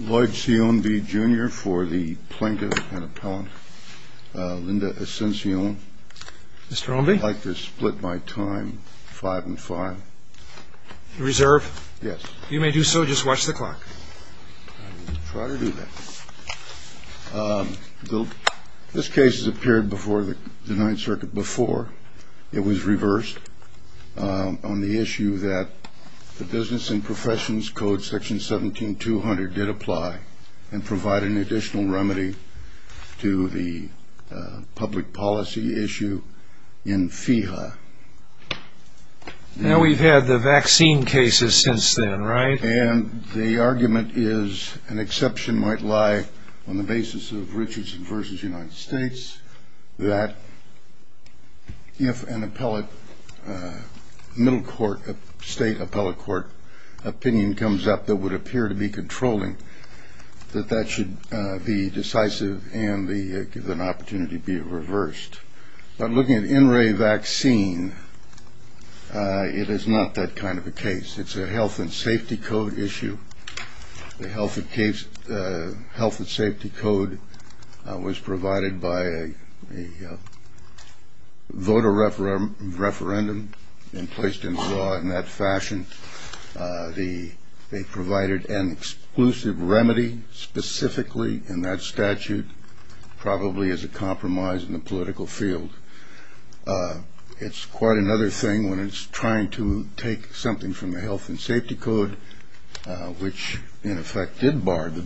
Lloyd Sion V. Jr. for the Plaintiff and Appellant, Linda Asencio. Mr. Romby? I'd like to split my time five and five. You reserve? Yes. You may do so, just watch the clock. I will try to do that. This case has appeared before the Ninth Circuit before it was reversed on the issue that the Business and Professions Code Section 17200 did apply and provide an additional remedy to the public policy issue in FEHA. Now we've had the vaccine cases since then, right? And the argument is an exception might lie on the basis of Richardson v. United States that if an appellate middle court, state appellate court opinion comes up that would appear to be controlling, that that should be decisive and give an opportunity to be reversed. But looking at NRA vaccine, it is not that kind of a case. It's a health and safety code issue. The health and safety code was provided by a voter referendum and placed into law in that fashion. They provided an exclusive remedy specifically in that statute, probably as a compromise in the political field. It's quite another thing when it's trying to take something from the health and safety code which, in effect, did bar the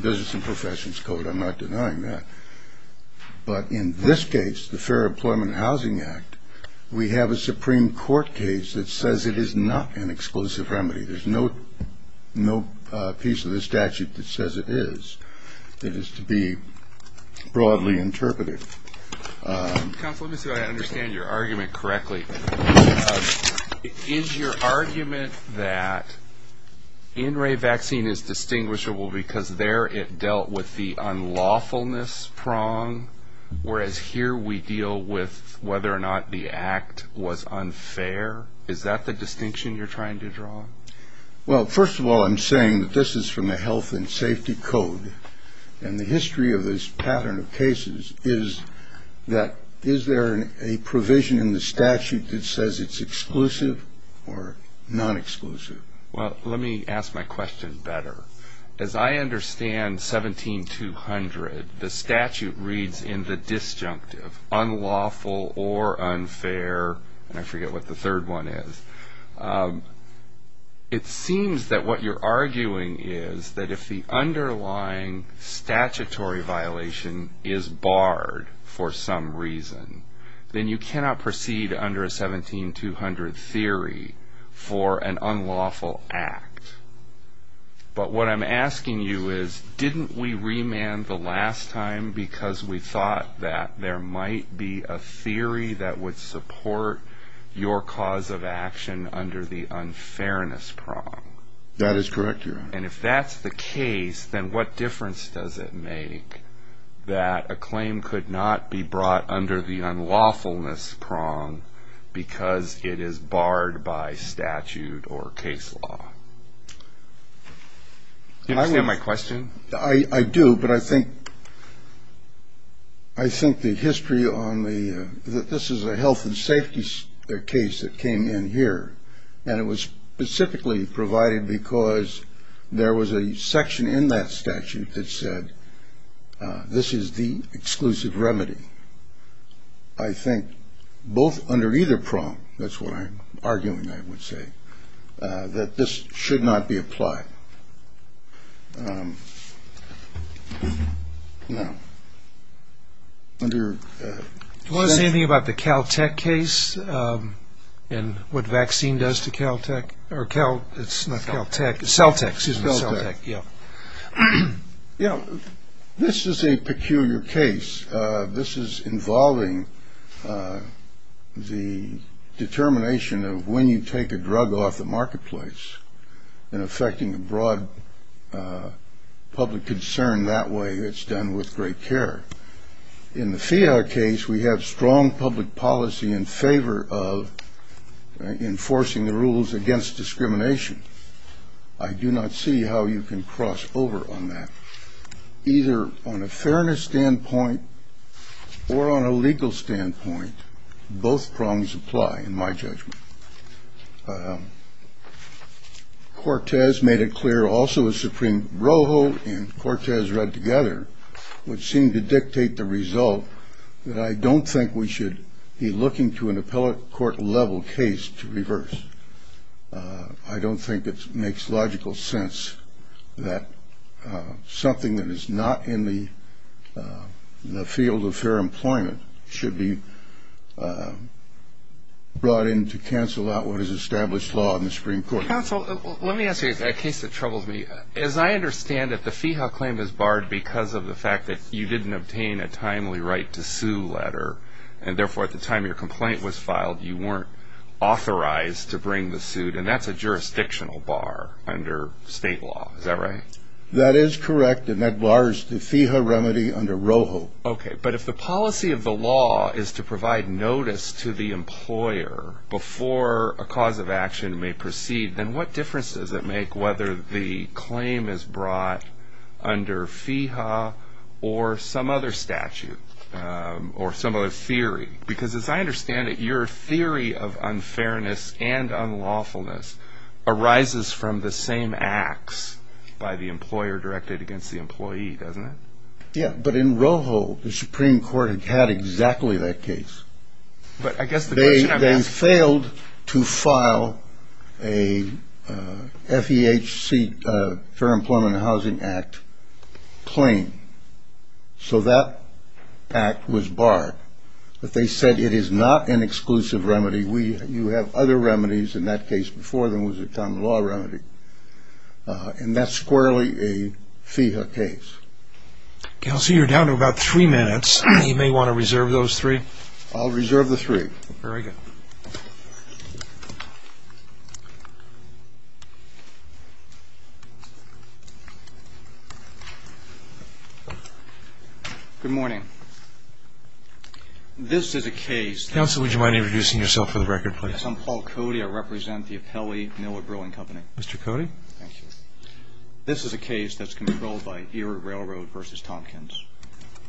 Business and Professions Code. I'm not denying that. But in this case, the Fair Employment and Housing Act, we have a Supreme Court case that says it is not an exclusive remedy. There's no piece of the statute that says it is that is to be broadly interpreted. Counsel, let me see if I understand your argument correctly. Is your argument that NRA vaccine is distinguishable because there it dealt with the unlawfulness prong, whereas here we deal with whether or not the act was unfair? Is that the distinction you're trying to draw? Well, first of all, I'm saying that this is from the health and safety code. And the history of this pattern of cases is that is there a provision in the statute that says it's exclusive or non-exclusive? Well, let me ask my question better. As I understand 17-200, the statute reads in the disjunctive, unlawful or unfair, and I forget what the third one is. It seems that what you're arguing is that if the underlying statutory violation is barred for some reason, then you cannot proceed under a 17-200 theory for an unlawful act. But what I'm asking you is, didn't we remand the last time because we thought that there might be a theory that would support your cause of action under the unfairness prong? That is correct, Your Honor. And if that's the case, then what difference does it make that a claim could not be brought under the unlawfulness prong because it is barred by statute or case law? Do you understand my question? I do, but I think the history on the ‑‑ this is a health and safety case that came in here, and it was specifically provided because there was a section in that statute that said this is the exclusive remedy. I think both under either prong, that's what I'm arguing, I would say, that this should not be applied. Now, under ‑‑ Do you want to say anything about the Caltech case and what vaccine does to Caltech? It's not Caltech, it's Celtech. Celtech, yeah. This is a peculiar case. This is involving the determination of when you take a drug off the marketplace and affecting a broad public concern that way. It's done with great care. In the FIAR case, we have strong public policy in favor of enforcing the rules against discrimination. I do not see how you can cross over on that. Either on a fairness standpoint or on a legal standpoint, both prongs apply in my judgment. Cortez made it clear also as Supreme Rojo and Cortez read together would seem to dictate the result that I don't think we should be looking to an appellate court level case to reverse. I don't think it makes logical sense that something that is not in the field of fair employment should be brought in to cancel out what is established law in the Supreme Court. Counsel, let me ask you a case that troubles me. As I understand it, the FIHA claim is barred because of the fact that you didn't obtain a timely right to sue letter, and therefore at the time your complaint was filed, you weren't authorized to bring the suit, and that's a jurisdictional bar under state law. Is that right? That is correct, and that bars the FIHA remedy under Rojo. Okay, but if the policy of the law is to provide notice to the employer before a cause of action may proceed, then what difference does it make whether the claim is brought under FIHA or some other statute or some other theory? Because as I understand it, your theory of unfairness and unlawfulness arises from the same acts by the employer directed against the employee, doesn't it? Yeah, but in Rojo the Supreme Court had exactly that case. They failed to file a FEHC, Fair Employment and Housing Act, claim, so that act was barred. But they said it is not an exclusive remedy. You have other remedies, and that case before them was a common law remedy, and that's squarely a FIHA case. Counsel, you're down to about three minutes. You may want to reserve those three. I'll reserve the three. Very good. Good morning. This is a case. Counsel, would you mind introducing yourself for the record, please? Yes, I'm Paul Cody. Mr. Cody. Thank you. This is a case that's controlled by Erie Railroad v. Tompkins.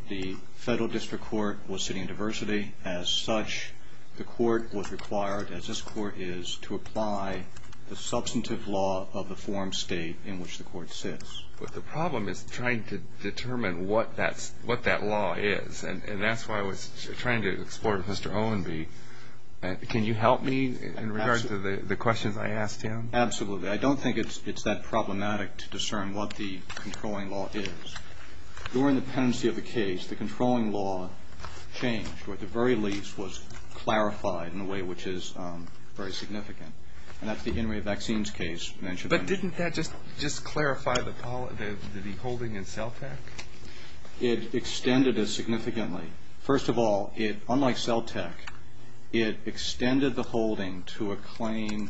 The federal district court was sitting in diversity. As such, the court was required, as this court is, to apply the substantive law of the form state in which the court sits. But the problem is trying to determine what that law is, and that's why I was trying to explore with Mr. Owen. Can you help me in regards to the questions I asked him? Absolutely. I don't think it's that problematic to discern what the controlling law is. During the pendency of the case, the controlling law changed, or at the very least was clarified in a way which is very significant, and that's the Henry Vaccines case. But didn't that just clarify the holding in CELTEC? It extended it significantly. Certainly. First of all, unlike CELTEC, it extended the holding to a claim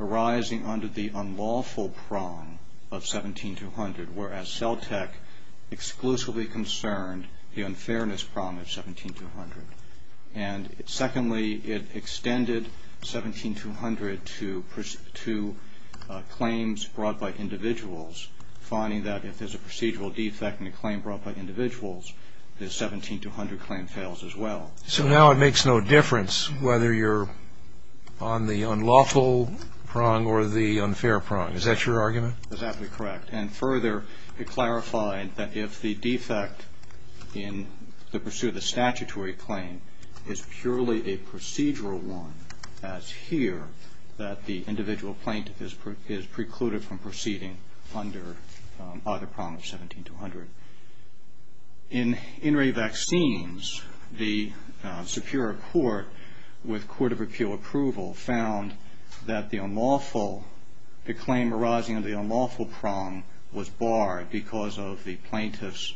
arising under the unlawful prong of 17200, whereas CELTEC exclusively concerned the unfairness prong of 17200. And secondly, it extended 17200 to claims brought by individuals, finding that if there's a procedural defect in a claim brought by individuals, the 17200 claim fails as well. So now it makes no difference whether you're on the unlawful prong or the unfair prong. Is that your argument? Exactly correct. And further, it clarified that if the defect in the pursuit of the statutory claim is purely a procedural one, as here, that the individual plaintiff is precluded from proceeding under either prong of 17200. In Henry Vaccines, the Superior Court, with court of appeal approval, found that the unlawful claim arising under the unlawful prong was barred because of the plaintiff's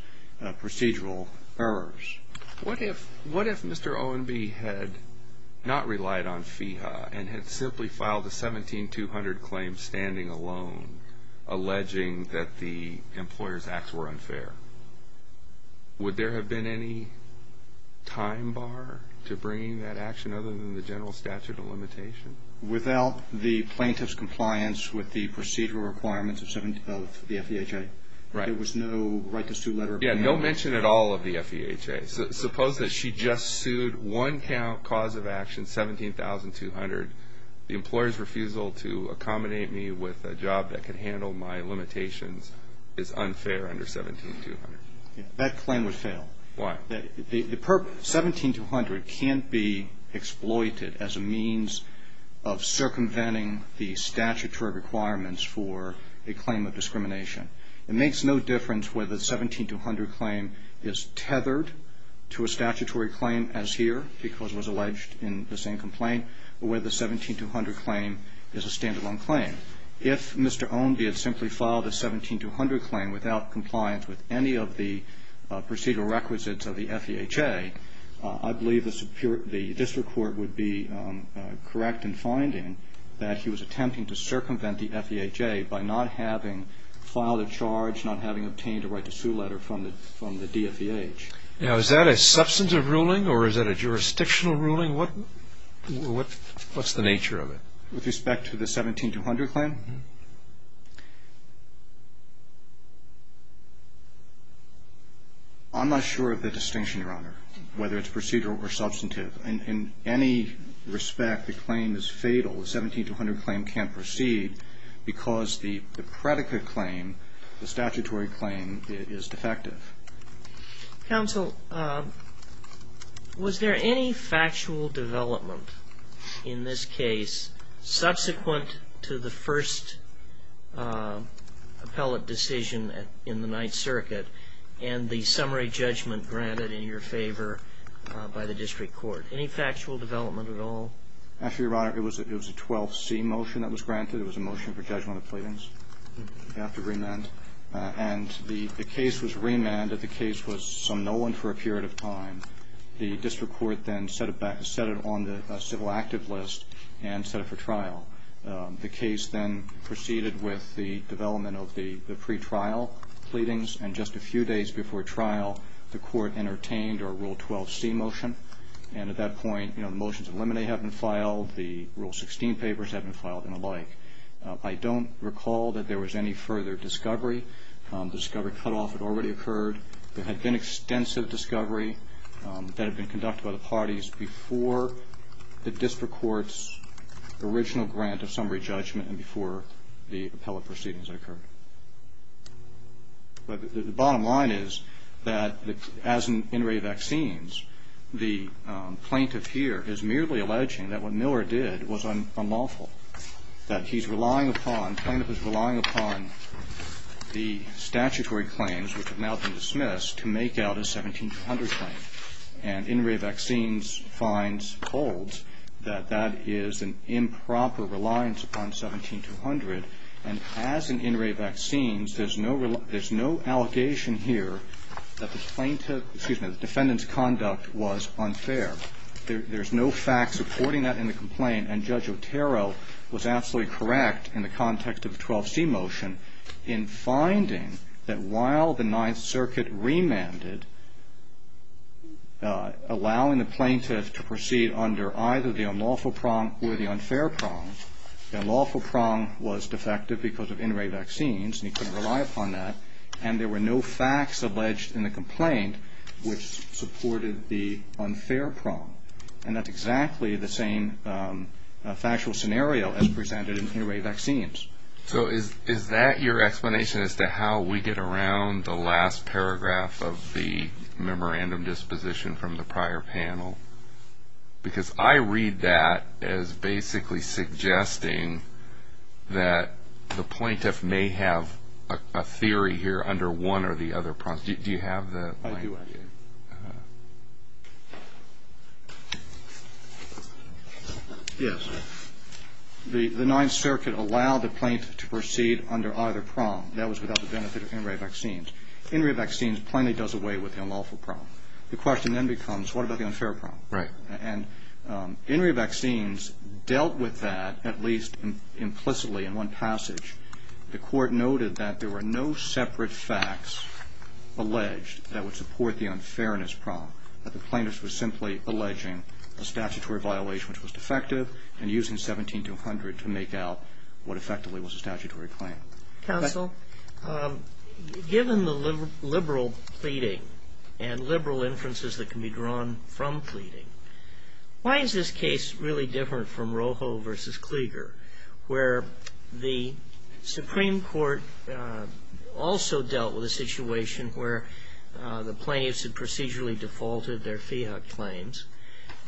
procedural errors. What if Mr. Owen B. had not relied on FEHA and had simply filed a 17200 claim standing alone, alleging that the employer's acts were unfair? Would there have been any time bar to bringing that action other than the general statute of limitation? Without the plaintiff's compliance with the procedural requirements of the FEHA, there was no right to sue letter. No mention at all of the FEHA. Suppose that she just sued one cause of action, 17200. The employer's refusal to accommodate me with a job that can handle my limitations is unfair under 17200. That claim would fail. Why? 17200 can't be exploited as a means of circumventing the statutory requirements for a claim of discrimination. It makes no difference whether the 17200 claim is tethered to a statutory claim as here, because it was alleged in the same complaint, or whether the 17200 claim is a standalone claim. If Mr. Owen B. had simply filed a 17200 claim without compliance with any of the procedural requisites of the FEHA, I believe the district court would be correct in finding that he was attempting to circumvent the FEHA by not having filed a charge, not having obtained a right to sue letter from the DFEH. Now, is that a substantive ruling, or is that a jurisdictional ruling? What's the nature of it? With respect to the 17200 claim? I'm not sure of the distinction, Your Honor, whether it's procedural or substantive. In any respect, the claim is fatal. The 17200 claim can't proceed because the predicate claim, the statutory claim, is defective. Counsel, was there any factual development in this case subsequent to the first appellate decision in the district court? Any factual development at all? Actually, Your Honor, it was a 12C motion that was granted. It was a motion for judgment of pleadings after remand. And the case was remanded. The case was somnolent for a period of time. The district court then set it on the civil active list and set it for trial. The case then proceeded with the development of the pretrial pleadings. And just a few days before trial, the court entertained our Rule 12C motion. And at that point, you know, the motions of limine have been filed. The Rule 16 papers have been filed and the like. I don't recall that there was any further discovery. The discovery cutoff had already occurred. There had been extensive discovery that had been conducted by the parties before the district court's original grant of summary judgment and before the appellate proceedings occurred. But the bottom line is that as an in-ray vaccines, the plaintiff here is merely alleging that what Miller did was unlawful. That he's relying upon, the plaintiff is relying upon the statutory claims, which have now been dismissed, to make out a 17-200 claim. And in-ray vaccines finds holds that that is an improper reliance upon 17-200. And as in in-ray vaccines, there's no allegation here that the defendant's conduct was unfair. There's no fact supporting that in the complaint. And Judge Otero was absolutely correct in the context of the 12C motion in finding that while the Ninth Circuit remanded, allowing the plaintiff to proceed under either the unlawful prong or the unfair prong, the unlawful prong was defective because of in-ray vaccines and he couldn't rely upon that. And there were no facts alleged in the complaint which supported the unfair prong. And that's exactly the same factual scenario as presented in in-ray vaccines. So is that your explanation as to how we get around the last paragraph of the memorandum disposition from the prior panel? Because I read that as basically suggesting that the plaintiff may have a theory here under one or the other prongs. Do you have that? I do, I do. Yes. The Ninth Circuit allowed the plaintiff to proceed under either prong. That was without the benefit of in-ray vaccines. In-ray vaccines plainly does away with the unlawful prong. The question then becomes what about the unfair prong? Right. And in-ray vaccines dealt with that at least implicitly in one passage. The Court noted that there were no separate facts alleged that would support the unfairness prong, that the plaintiff was simply alleging a statutory violation which was defective and using 17200 to make out what effectively was a statutory claim. Counsel, given the liberal pleading and liberal inferences that can be drawn from pleading, why is this case really different from Rojo v. Klieger, where the Supreme Court also dealt with a situation where the plaintiffs had procedurally defaulted their Feehuck claims,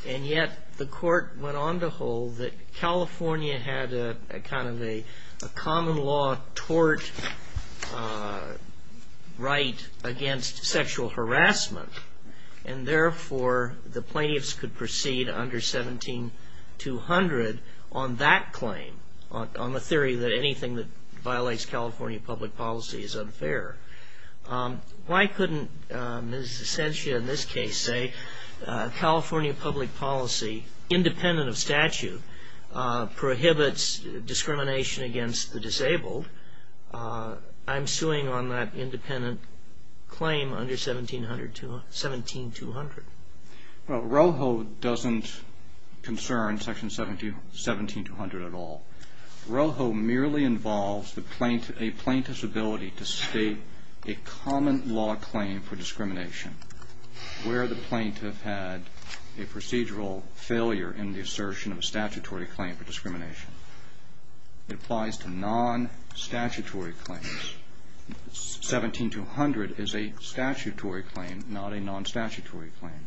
and yet the Court went on to hold that California had a kind of a common law tort right against sexual harassment, and therefore the plaintiffs could proceed under 17200 on that claim, on the theory that anything that violates California public policy is unfair. Why couldn't Ms. Essentia in this case say California public policy, independent of statute, prohibits discrimination against the disabled? I'm suing on that independent claim under 17200. Well, Rojo doesn't concern Section 17200 at all. Rojo merely involves a plaintiff's ability to state a common law claim for discrimination, where the plaintiff had a procedural failure in the assertion of a statutory claim for discrimination. It applies to non-statutory claims. 17200 is a statutory claim, not a non-statutory claim.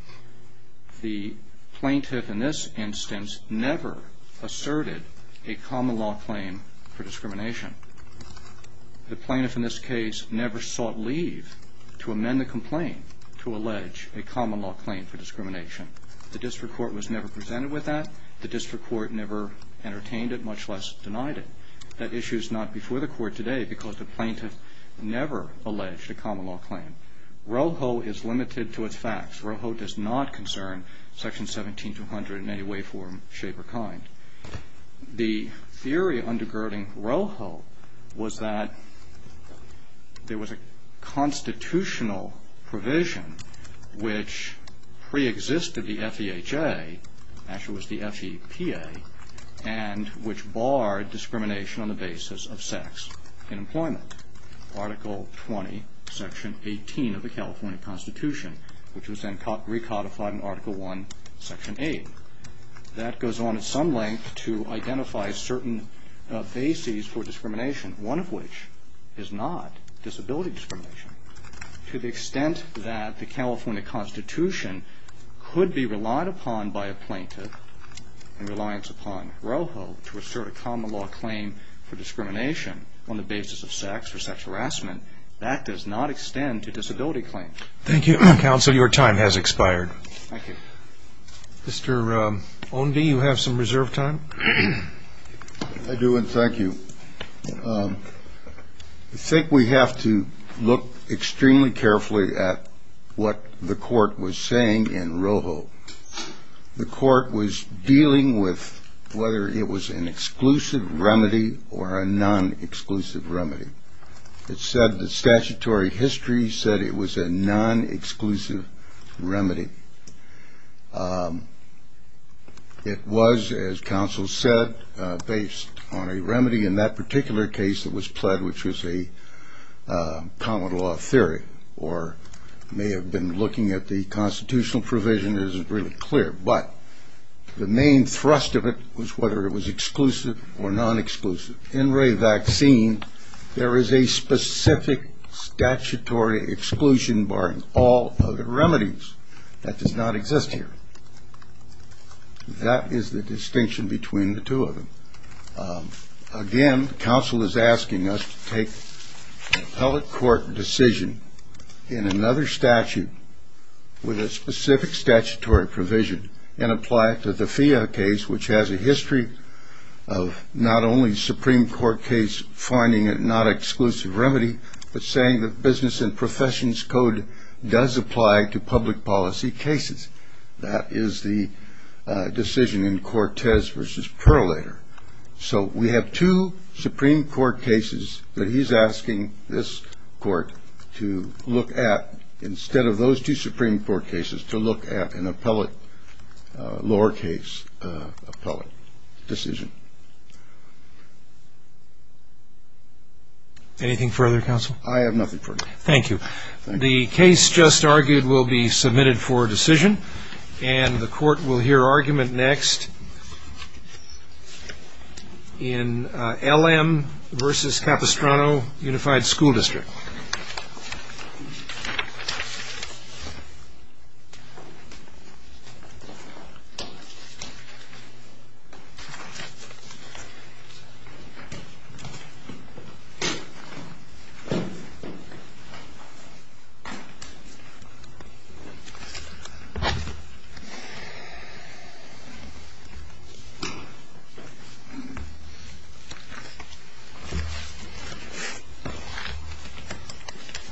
The plaintiff in this instance never asserted a common law claim for discrimination. The plaintiff in this case never sought leave to amend the complaint to allege a common law claim for discrimination. The District Court was never presented with that. The District Court never entertained it, much less denied it. That issue is not before the Court today because the plaintiff never alleged a common law claim. Rojo is limited to its facts. Rojo does not concern Section 17200 in any way, form, shape, or kind. The theory undergirding Rojo was that there was a constitutional provision which preexisted the FEHA, actually it was the FEPA, and which barred discrimination on the basis of sex in employment. Article 20, Section 18 of the California Constitution, which was then recodified in Article 1, Section 8. That goes on at some length to identify certain bases for discrimination, one of which is not disability discrimination. To the extent that the California Constitution could be relied upon by a plaintiff in reliance upon Rojo to assert a common law claim for discrimination on the basis of sex or sex harassment, that does not extend to disability claims. Thank you. Counsel, your time has expired. Thank you. Mr. Ownby, you have some reserved time. I do, and thank you. I think we have to look extremely carefully at what the Court was saying in Rojo. The Court was dealing with whether it was an exclusive remedy or a non-exclusive remedy. It said the statutory history said it was a non-exclusive remedy. It was, as counsel said, based on a remedy in that particular case that was pled, which was a common law theory, or may have been looking at the constitutional provision isn't really clear, but the main thrust of it was whether it was exclusive or non-exclusive. In Ray vaccine, there is a specific statutory exclusion barring all other remedies. That does not exist here. Again, counsel is asking us to take an appellate court decision in another statute with a specific statutory provision and apply it to the FIA case, which has a history of not only Supreme Court case finding it not exclusive remedy, but saying that business and professions code does apply to public policy cases. That is the decision in Cortez v. Perlator. So we have two Supreme Court cases that he's asking this Court to look at instead of those two Supreme Court cases to look at an appellate lower case appellate decision. Anything further, counsel? I have nothing further. Thank you. The case just argued will be submitted for decision, and the Court will hear argument next in LM v. Capistrano Unified School District. Thank you.